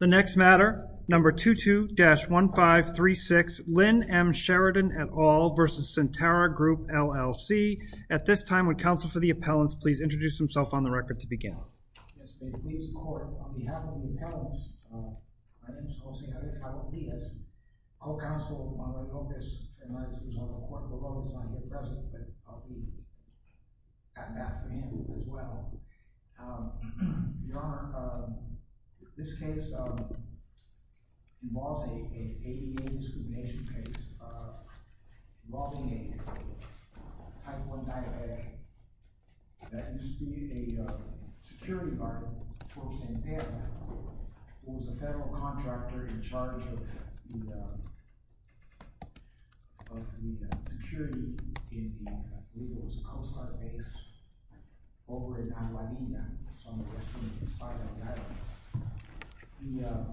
The next matter, number 22-1536, Lynn M. Sheridan, et al. v. Centerra Group, LLC. At this time, would counsel for the appellants please introduce themselves on the record to begin. Yes, please, court. On behalf of the appellants, my name is Jose Javier Calvadillas, co-counsel of Marla Lopez, and as you saw in the report below, he's not here present, but I'll be chatting back for him as well. Your Honor, this case involves an ADA discrimination case involving a type 1 diabetic that used to be a security guard for Santa Fe who was a federal contractor in charge of the security in the legal coast guard base over in Andalavina, some of the western side of the island.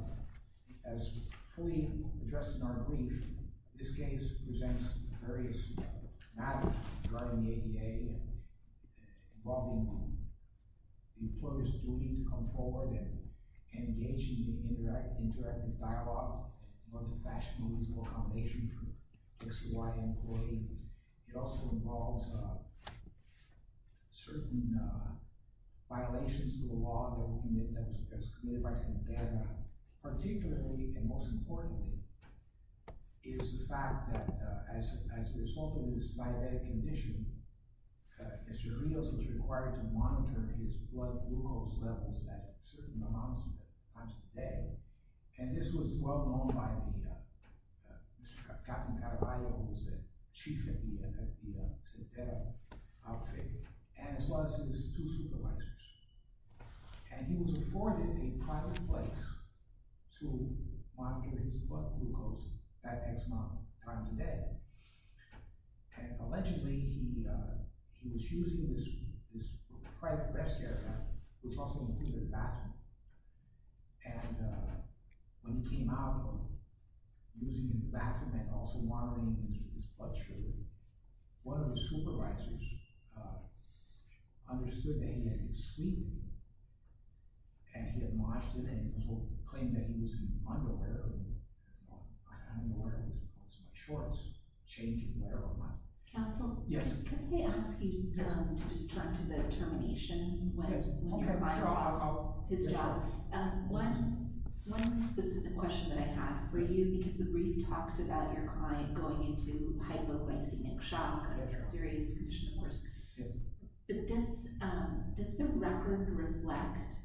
As fully addressed in our brief, this case presents various matters regarding the ADA involving the Interactive Dialogue and Multifashional Legal Accommodation for XY employees. It also involves certain violations to the law that was committed by Centerra, particularly and most importantly, is the fact that as a result of this diabetic condition, Mr. Rios was required to monitor his blood glucose levels at certain amounts of times a day, and this was well known by Mr. Carlton Carballo, who was the chief at the Centerra outfit, as well as his two supervisors, and he was afforded a private place to monitor his blood glucose at X amount of times a day. And allegedly, he was using this private rest area, which also included a bathroom, and when he came out of the room, using the bathroom and also monitoring his blood sugar, one of the supervisors understood that he had been sweetened, and he had lodged it and claimed that he was unaware of it. Well, I'm not aware of it, but I'm sure it's changing wherever I'm at. Counsel, can I ask you to just turn to the termination when you cross his job? One specific question that I have for you, because the brief talked about your client going into hypoglycemic shock under a serious condition of risk. Does the record reflect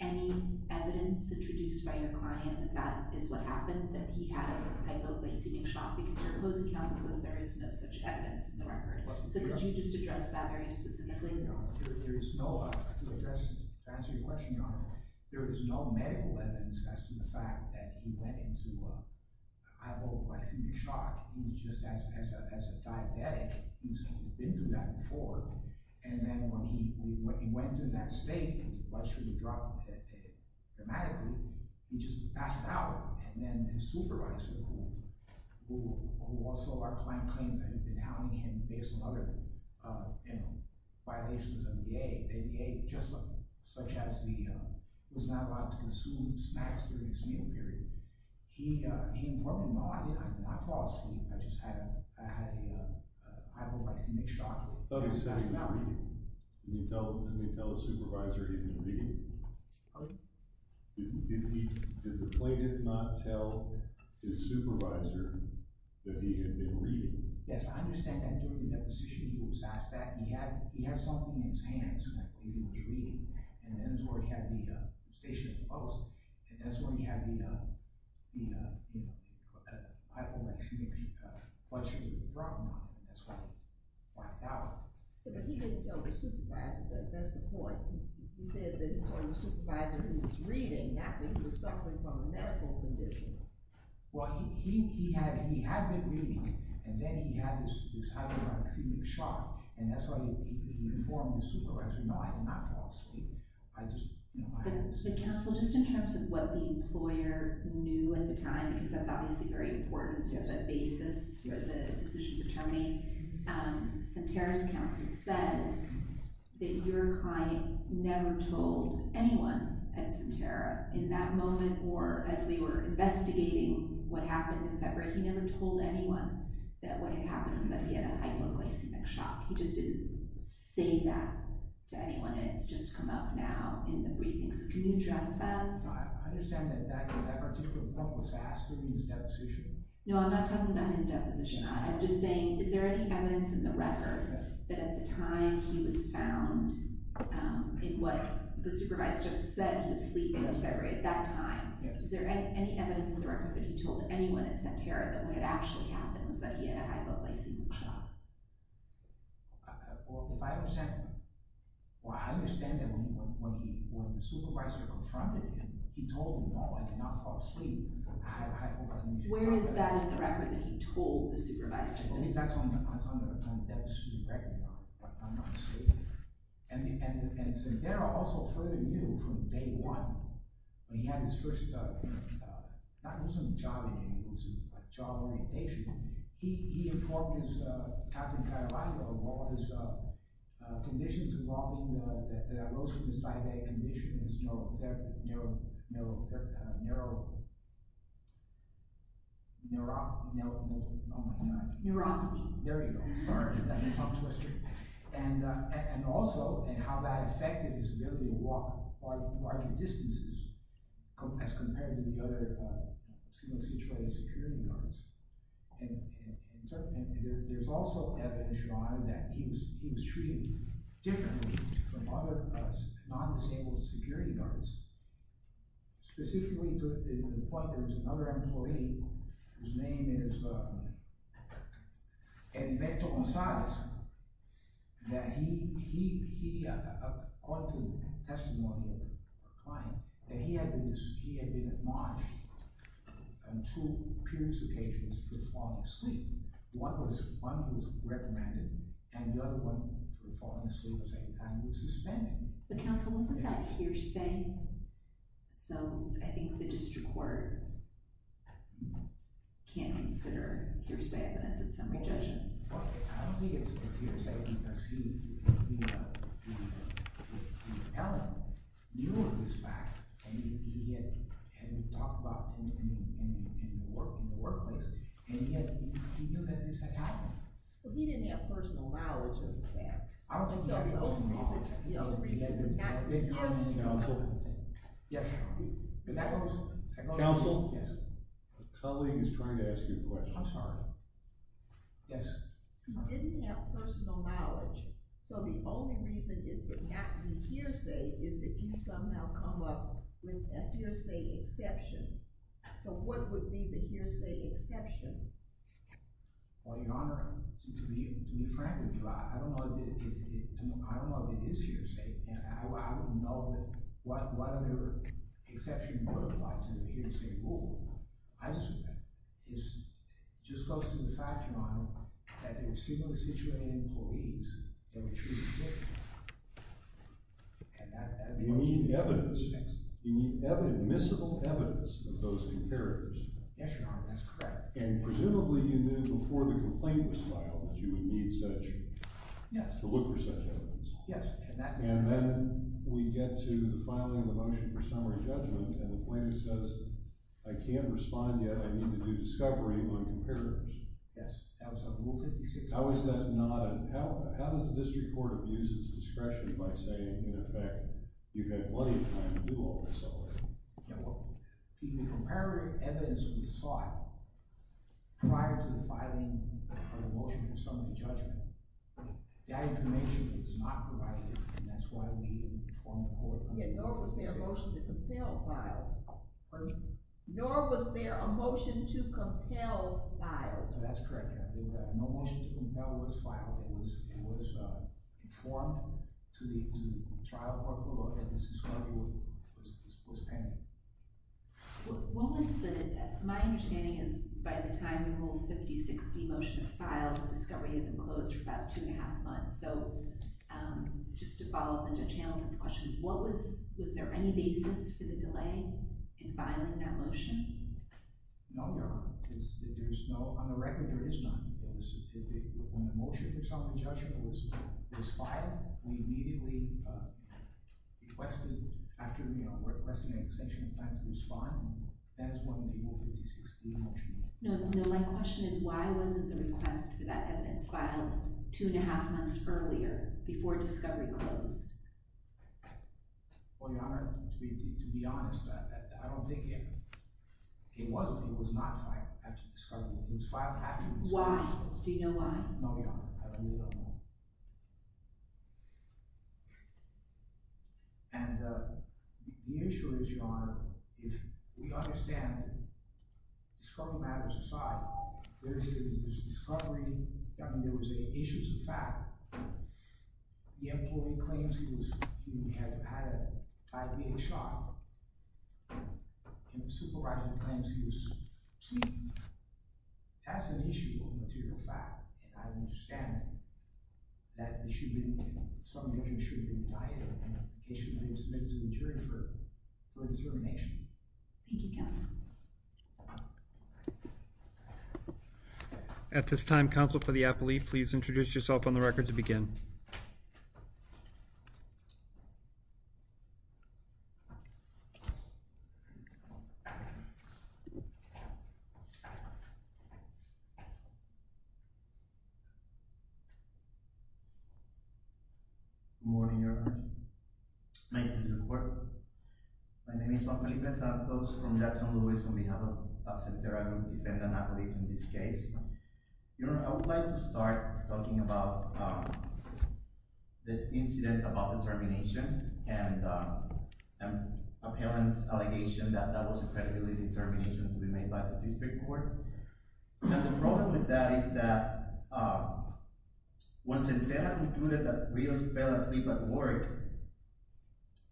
any evidence introduced by your client that that is what happened, that he had hypoglycemic shock, because your closing counsel says there is no such evidence in the record. So could you just address that very specifically? There is no—to answer your question, Your Honor, there is no medical evidence as to the fact that he went into hypoglycemic shock. He was just as a diabetic. He had been through that before. And then when he went into that state, his blood sugar dropped dramatically. He just passed out, and then his supervisor, who also our client claims had been hounding him based on other violations of the ADA, just such as he was not allowed to consume snacks during his meal period. He—well, no, I did not cause sleep. I just had a hypoglycemic shock. I thought he said he was reading. Didn't he tell his supervisor he had been reading? Did the plaintiff not tell his supervisor that he had been reading? Yes, I understand that during the deposition he was asked that. He had something in his hands that he was reading, and that's where he had the station of the post. That's where he had the hypoglycemic blood sugar drop, and that's why he passed out. But he didn't tell his supervisor. That's the point. He said that he told his supervisor he was reading, not that he was suffering from a medical condition. Well, he had been reading, and then he had this hypoglycemic shock, and that's why he informed his supervisor, no, I did not cause sleep. But counsel, just in terms of what the employer knew at the time, because that's obviously very important to have a basis for the decision to terminate, Sentara's counsel says that your client never told anyone at Sentara in that moment or as they were investigating what happened in February. He never told anyone that what had happened was that he had a hypoglycemic shock. He just didn't say that to anyone, and it's just come up now in the briefing. So can you address that? I understand that that particular point was asked during his deposition. No, I'm not talking about his deposition. I'm just saying is there any evidence in the record that at the time he was found, in what the supervisor just said he was sleeping in February at that time, is there any evidence in the record that he told anyone at Sentara that when it actually happens that he had a hypoglycemic shock? Well, if I understand that when the supervisor confronted him, he told him, no, I did not fall asleep, I have hypoglycemia. Where is that in the record that he told the supervisor? That's on the deposition record, but I'm not saying that. And Sentara also further knew from day one when he had his first – it wasn't a job interview, it was a job orientation. He informed his captain in Colorado of all his conditions involving that arose from his diabetic condition, his neuro – neuro – neuro – neuro – oh, my God. Neuropathy. There you go. Sorry, that's a tongue twister. And also how that affected his ability to walk larger distances as compared to the other single-situated security guards. And there's also evidence, you know, that he was treated differently from other non-disabled security guards, specifically to the point that there's another employee whose name is Heriberto Gonzalez, that he, according to testimony of a client, that he had been admonished on two periods of occasions for falling asleep. One was one who was reprimanded, and the other one for falling asleep at the same time was suspended. But counsel, wasn't that hearsay? So I think the district court can't consider hearsay evidence. It's under judgement. Well, I don't think it's hearsay. I see that the appellant knew of this fact, and he had talked about it in the workplace, and he knew that this had happened. But he didn't have personal knowledge of that. I don't think so. That's the only reason. Counsel? Yes. Counsel? Yes. A colleague is trying to ask you a question. I'm sorry. Yes. He didn't have personal knowledge, so the only reason it could not be hearsay is that you somehow come up with a hearsay exception. So what would be the hearsay exception? Well, Your Honor, to be frank with you, I don't know if it is hearsay, and I don't know what other exception you would apply to the hearsay rule. I just think that it just goes to the fact, Your Honor, that there were similarly situated employees that were treated differently. You need evidence. You need admissible evidence of those comparatives. Yes, Your Honor, that's correct. And presumably you knew before the complaint was filed that you would need such – to look for such evidence. Yes. And then we get to the filing of the motion for summary judgment, and the plaintiff says, I can't respond yet. I need to do discovery on comparatives. Yes. That was on Rule 56. How is that not a – how does the district court abuse its discretion by saying, in effect, you've had plenty of time to do all this already? The comparative evidence that we sought prior to the filing of the motion for summary judgment, that information is not provided, and that's why we informed the court. Nor was there a motion to compel filing. Nor was there a motion to compel filing. That's correct, Your Honor. No motion to compel was filed. It was informed to the trial court, and this is where it was painted. What was the – my understanding is by the time the Rule 56 motion is filed, the discovery had been closed for about two and a half months. So just to follow up on Judge Hamilton's question, what was – was there any basis for the delay in filing that motion? No, Your Honor. There's no – on the record, there is none. When the motion for summary judgment was filed, we immediately requested, after requesting an extension of time to respond. That is when the Rule 56 motion was filed. No, my question is why wasn't the request for that evidence filed two and a half months earlier before discovery closed? Well, Your Honor, to be honest, I don't think it – it wasn't. It was not filed after discovery. It was filed after discovery. Why? Do you know why? No, Your Honor. I really don't know. And the issue is, Your Honor, if we understand discovery matters aside, there's discovery – I mean there was issues of fact. The employee claims he was – he had had a diabetes shot. And the supervisor claims he was keen. That's an issue of material fact. And I understand that it should be – some injury should be indicted. And the case should be submitted to the jury for – for determination. Thank you, counsel. At this time, counsel for the appellee, please introduce yourself on the record to begin. Good morning, Your Honor. Thank you for your support. My name is Juan Felipe Santos from Jackson, Louis, on behalf of Sentera Group Defendant Appellees in this case. Your Honor, I would like to start talking about the incident about the termination and a parent's allegation that that was a credibility determination to be made by the district court. And the problem with that is that when Sentera concluded that Rios fell asleep at work,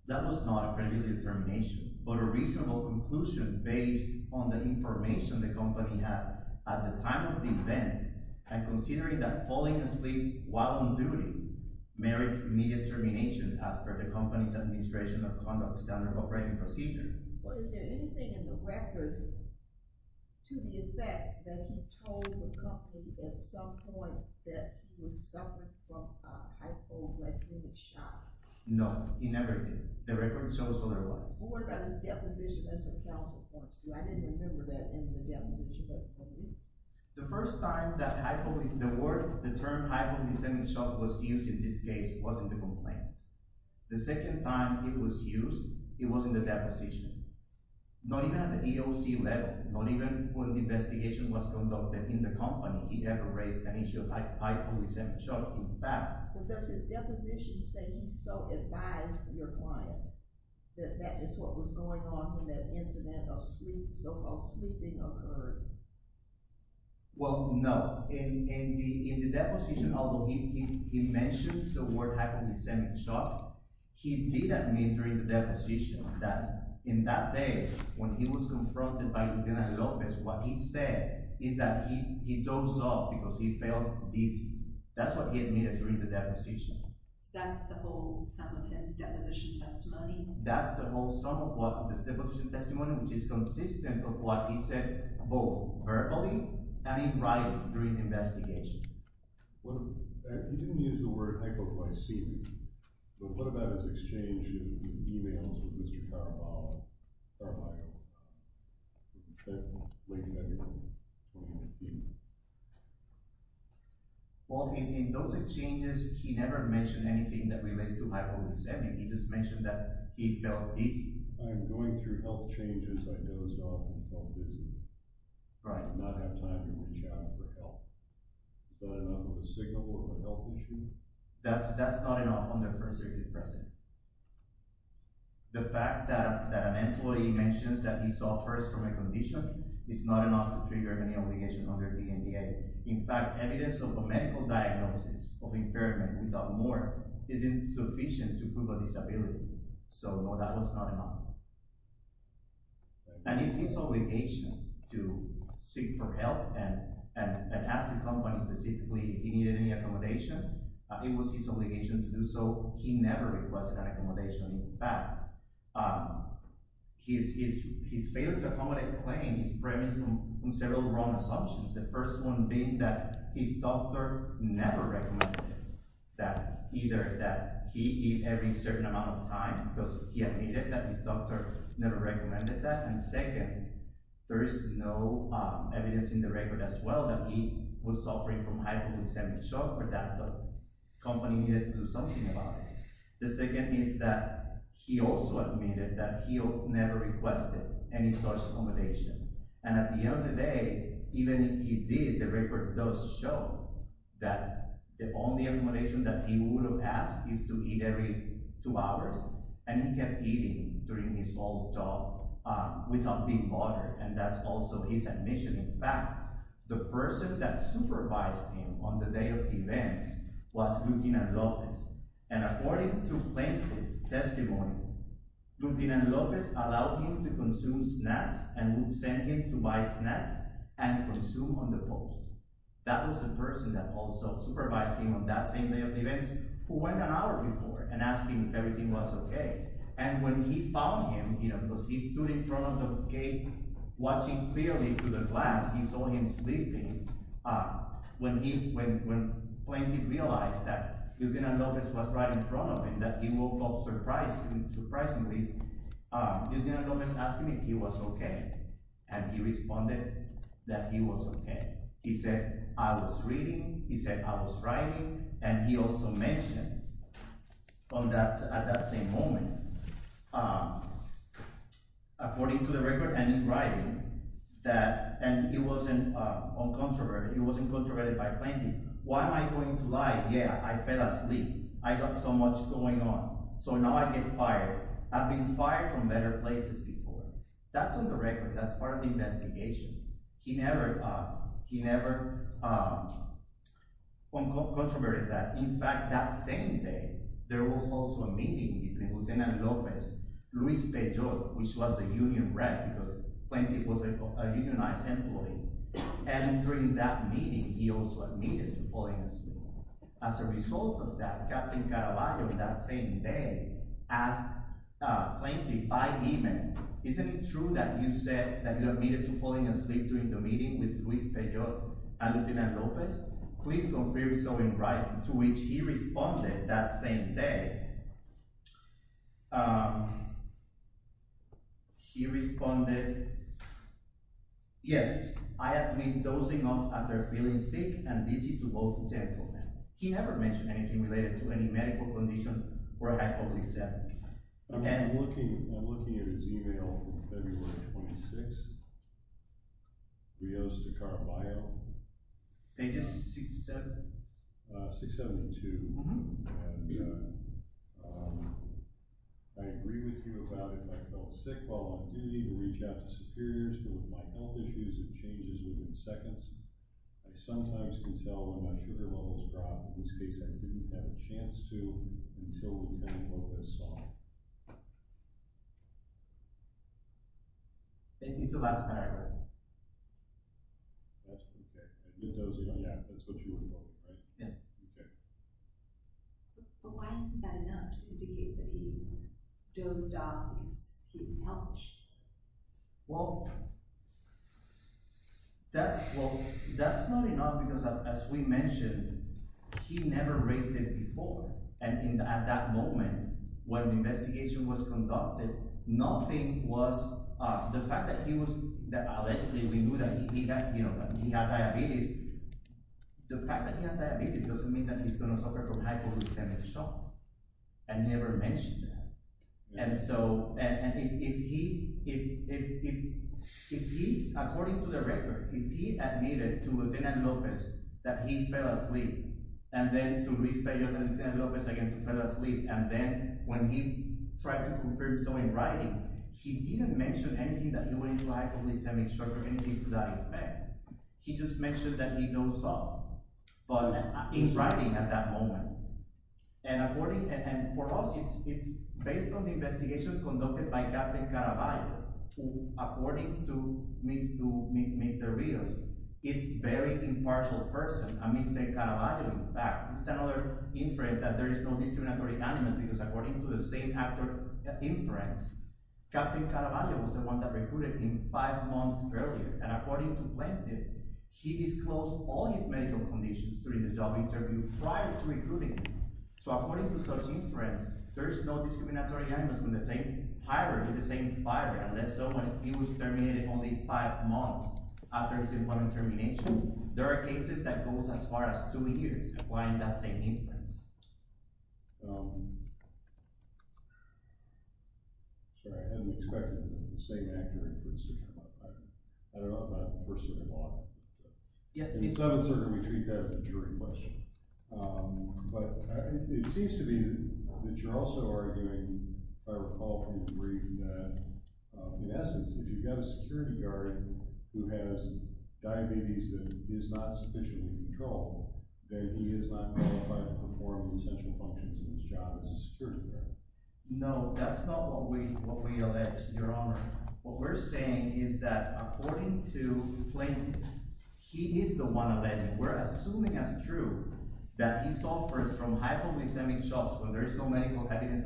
that was not a credibility determination, but a reasonable conclusion based on the information the company had at the time of the event and considering that falling asleep while on duty merits immediate termination as per the company's administration of conduct standard operating procedure. Well, is there anything in the record to the effect that he told the company at some point that he was suffering from hypoglycemic shock? No, he never did. The record shows otherwise. Well, what about his deposition as a counsel for us? I didn't remember that in the deposition. The first time that hypoglycemic – the word – the term hypoglycemic shock was used in this case was in the complaint. The second time it was used, it was in the deposition. Not even at the EOC level, not even when the investigation was conducted in the company, he never raised an issue of hypoglycemic shock. In fact – But does his deposition say he so advised your client that that is what was going on when that incident of sleep, so-called sleeping, occurred? Well, no. In the deposition, although he mentions the word hypoglycemic shock, he did admit during the deposition that in that day when he was confronted by Lieutenant Lopez, what he said is that he dozed off because he felt dizzy. That's what he admitted during the deposition. So that's the whole sum of his deposition testimony? That's the whole sum of his deposition testimony, which is consistent of what he said both verbally and in writing during the investigation. He didn't use the word hypoglycemic, but what about his exchange in emails with Mr. Caraballo? He didn't mention anything that relates to hypoglycemic. He just mentioned that he felt dizzy. I'm going through health changes. I dozed off and felt dizzy. I did not have time to reach out for help. Is that enough of a signal of a health issue? That's not enough on the first day of deposition. The fact that an employee mentions that he suffers from a condition is not enough to trigger any obligation under the NDA. In fact, evidence of a medical diagnosis of impairment without more is insufficient to prove a disability. So, no, that was not enough. And it's his obligation to seek for help and ask the company specifically if he needed any accommodation. It was his obligation to do so. He never requested an accommodation. In fact, his failure to accommodate the claim is premised on several wrong assumptions. The first one being that his doctor never recommended that either that he eat every certain amount of time because he admitted that his doctor never recommended that. And second, there is no evidence in the record as well that he was suffering from hypoglycemic shock or that the company needed to do something about it. The second is that he also admitted that he never requested any such accommodation. And at the end of the day, even if he did, the record does show that the only accommodation that he would have asked is to eat every two hours. And he kept eating during his whole talk without being bothered. And that's also his admission. In fact, the person that supervised him on the day of the events was Lutinan Lopez. And according to plaintiff's testimony, Lutinan Lopez allowed him to consume snacks and would send him to buy snacks and consume on the post. That was the person that also supervised him on that same day of the events, who went an hour before and asked him if everything was OK. And when he found him, you know, because he stood in front of the gate watching clearly through the glass, he saw him sleeping. When plaintiff realized that Lutinan Lopez was right in front of him, that he woke up surprisingly, Lutinan Lopez asked him if he was OK, and he responded that he was OK. He said, I was reading. He said, I was writing. And he also mentioned on that at that same moment. According to the record and in writing that and he wasn't on controversy, he wasn't controverted by plenty. Why am I going to lie? Yeah, I fell asleep. I got so much going on. So now I get fired. I've been fired from better places before. That's on the record. That's part of the investigation. He never he never. On contrary to that, in fact, that same day, there was also a meeting between Lutinan Lopez, Luis Pedro, which was a union, right? Plenty was a unionized employee. And during that meeting, he also admitted to falling asleep. As a result of that, Captain Caraballo, that same day, asked Plaintiff by email. Isn't it true that you said that you admitted to falling asleep during the meeting with Luis Pedro and Lutinan Lopez? Please confirm. So in right to which he responded that same day. He responded, yes, I have been dozing off after feeling sick and dizzy to both gentlemen. He never mentioned anything related to any medical condition. I'm looking. I'm looking at his email from February 26. Rios to Caraballo. They just said 672. And I agree with you about it. I felt sick while on duty to reach out to superiors. My health issues and changes within seconds. I sometimes can tell when my sugar levels drop. In this case, I didn't have a chance to until we saw. Thank you so much. That's OK. That's what you want, right? OK. But why is that enough to indicate that he dozed off? Well, that's well, that's not enough, because as we mentioned, he never raised it before. And at that moment, when the investigation was conducted, nothing was the fact that he was that we knew that he had diabetes. The fact that he has diabetes doesn't mean that he's going to suffer from hypoglycemia. I never mentioned that. And so if he if he if he, according to the record, if he admitted to Lieutenant Lopez that he fell asleep and then to respect you, Lieutenant Lopez, again, fell asleep. And then when he tried to confirm so in writing, he didn't mention anything that you were like hypoglycemia or anything to that effect. He just mentioned that he dozed off. But he's writing at that moment. And according and for us, it's based on the investigation conducted by Captain Caraballo, according to Mr. Rios, it's very impartial person, Mr. Caraballo. In fact, this is another inference that there is no discriminatory animus because according to the same actor inference, Captain Caraballo was the one that recruited him five months earlier. And according to Planted, he disclosed all his medical conditions during the job interview prior to recruiting. So according to such inference, there is no discriminatory animus when the same pirate is the same pirate. And so when he was terminated only five months after his important termination, there are cases that goes as far as two years. Why that same inference? Sorry, I didn't expect the same actor inference to come up. I don't know if I'm personally involved. Yeah. So we treat that as a jury question. But it seems to me that you're also arguing, if I recall from your brief, that in essence, if you've got a security guard who has diabetes that is not sufficiently controlled, that he is not qualified to perform essential functions in his job as a security guard. No, that's not what we what we elect, Your Honor. What we're saying is that according to Planted, he is the one alleged. We're assuming as true that he suffers from hypoglycemic shock when there is no medical happiness,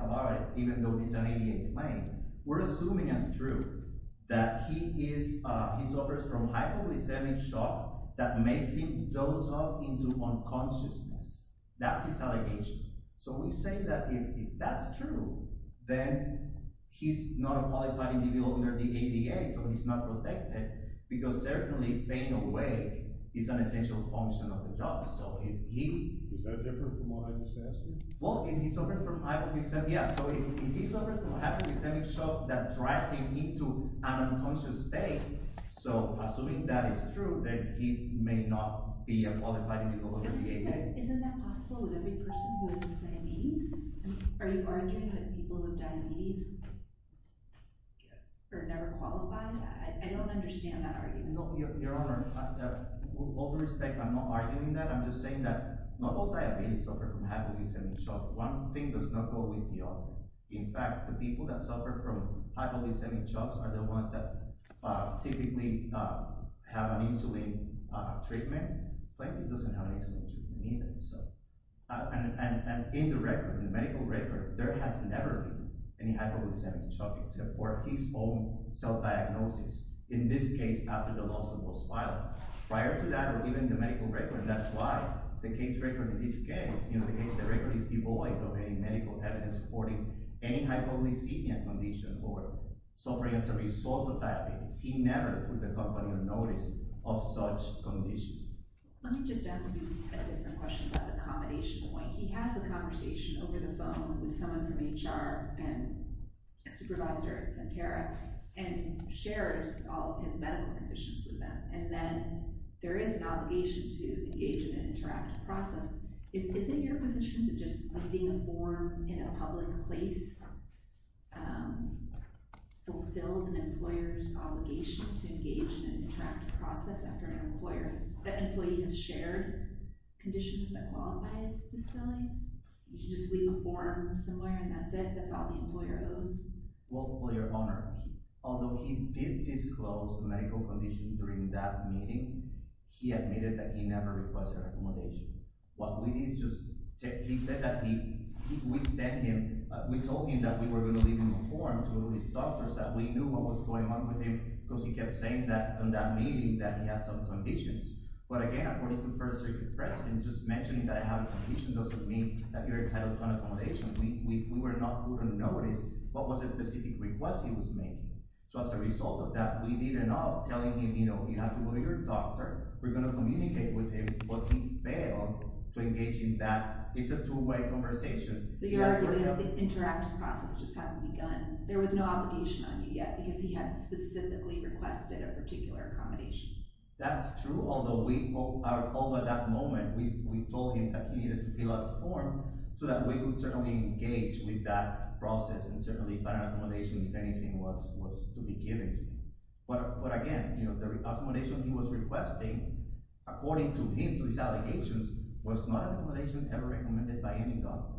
even though there is an ADA claim. We're assuming as true that he is he suffers from hypoglycemic shock that makes him doze off into unconsciousness. That's his allegation. So we say that if that's true, then he's not a qualified individual under the ADA. So he's not protected because certainly staying awake is an essential function of the job. So if he. Is that different from what I just asked you? Well, if he suffers from hypoglycemic shock, that drives him into an unconscious state. So assuming that is true, then he may not be a qualified individual under the ADA. Isn't that possible with every person who has diabetes? Are you arguing that people with diabetes are never qualified? I don't understand that argument. No, Your Honor, with all due respect, I'm not arguing that. I'm just saying that not all diabetes suffer from hypoglycemic shock. One thing does not go with the other. In fact, the people that suffer from hypoglycemic shocks are the ones that typically have an insulin treatment. Plankton doesn't have an insulin treatment either. And in the record, in the medical record, there has never been any hypoglycemic shock except for his own cell diagnosis. In this case, after the lawsuit was filed. Prior to that, or even the medical record, that's why the case record in this case, the record is devoid of any medical evidence supporting any hypoglycemia condition or suffering as a result of diabetes. He never put the company on notice of such conditions. Let me just ask you a different question about the accommodation point. He has a conversation over the phone with someone from HR and a supervisor at Sentara and shares all of his medical conditions with them. And then there is an obligation to engage in an interactive process. Isn't your position that just leaving a form in a public place fulfills an employer's obligation to engage in an interactive process after an employer has shared conditions that qualify as disabilities? You can just leave a form somewhere and that's it. That's all the employer owes. Well, Your Honor, although he did disclose medical conditions during that meeting, he admitted that he never requested accommodation. What we did is just, he said that he, we sent him, we told him that we were going to leave a form to his doctors that we knew what was going on with him because he kept saying that in that meeting that he had some conditions. But again, according to First Circuit precedent, just mentioning that I have a condition doesn't mean that you're entitled to an accommodation. We were not going to notice what was a specific request he was making. So as a result of that, we did end up telling him, you know, you have to go to your doctor. We're going to communicate with him, but he failed to engage in that. It's a two-way conversation. So you're arguing that the interactive process just hasn't begun. There was no obligation on you yet because he hadn't specifically requested a particular accommodation. That's true, although we, although at that moment we told him that he needed to fill out a form so that we could certainly engage with that process and certainly find accommodation if anything was to be given to him. But again, you know, the accommodation he was requesting, according to him, to his allegations, was not an accommodation ever recommended by any doctor.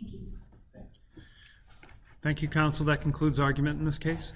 Thank you. Thanks. Thank you, counsel. That concludes argument in this case.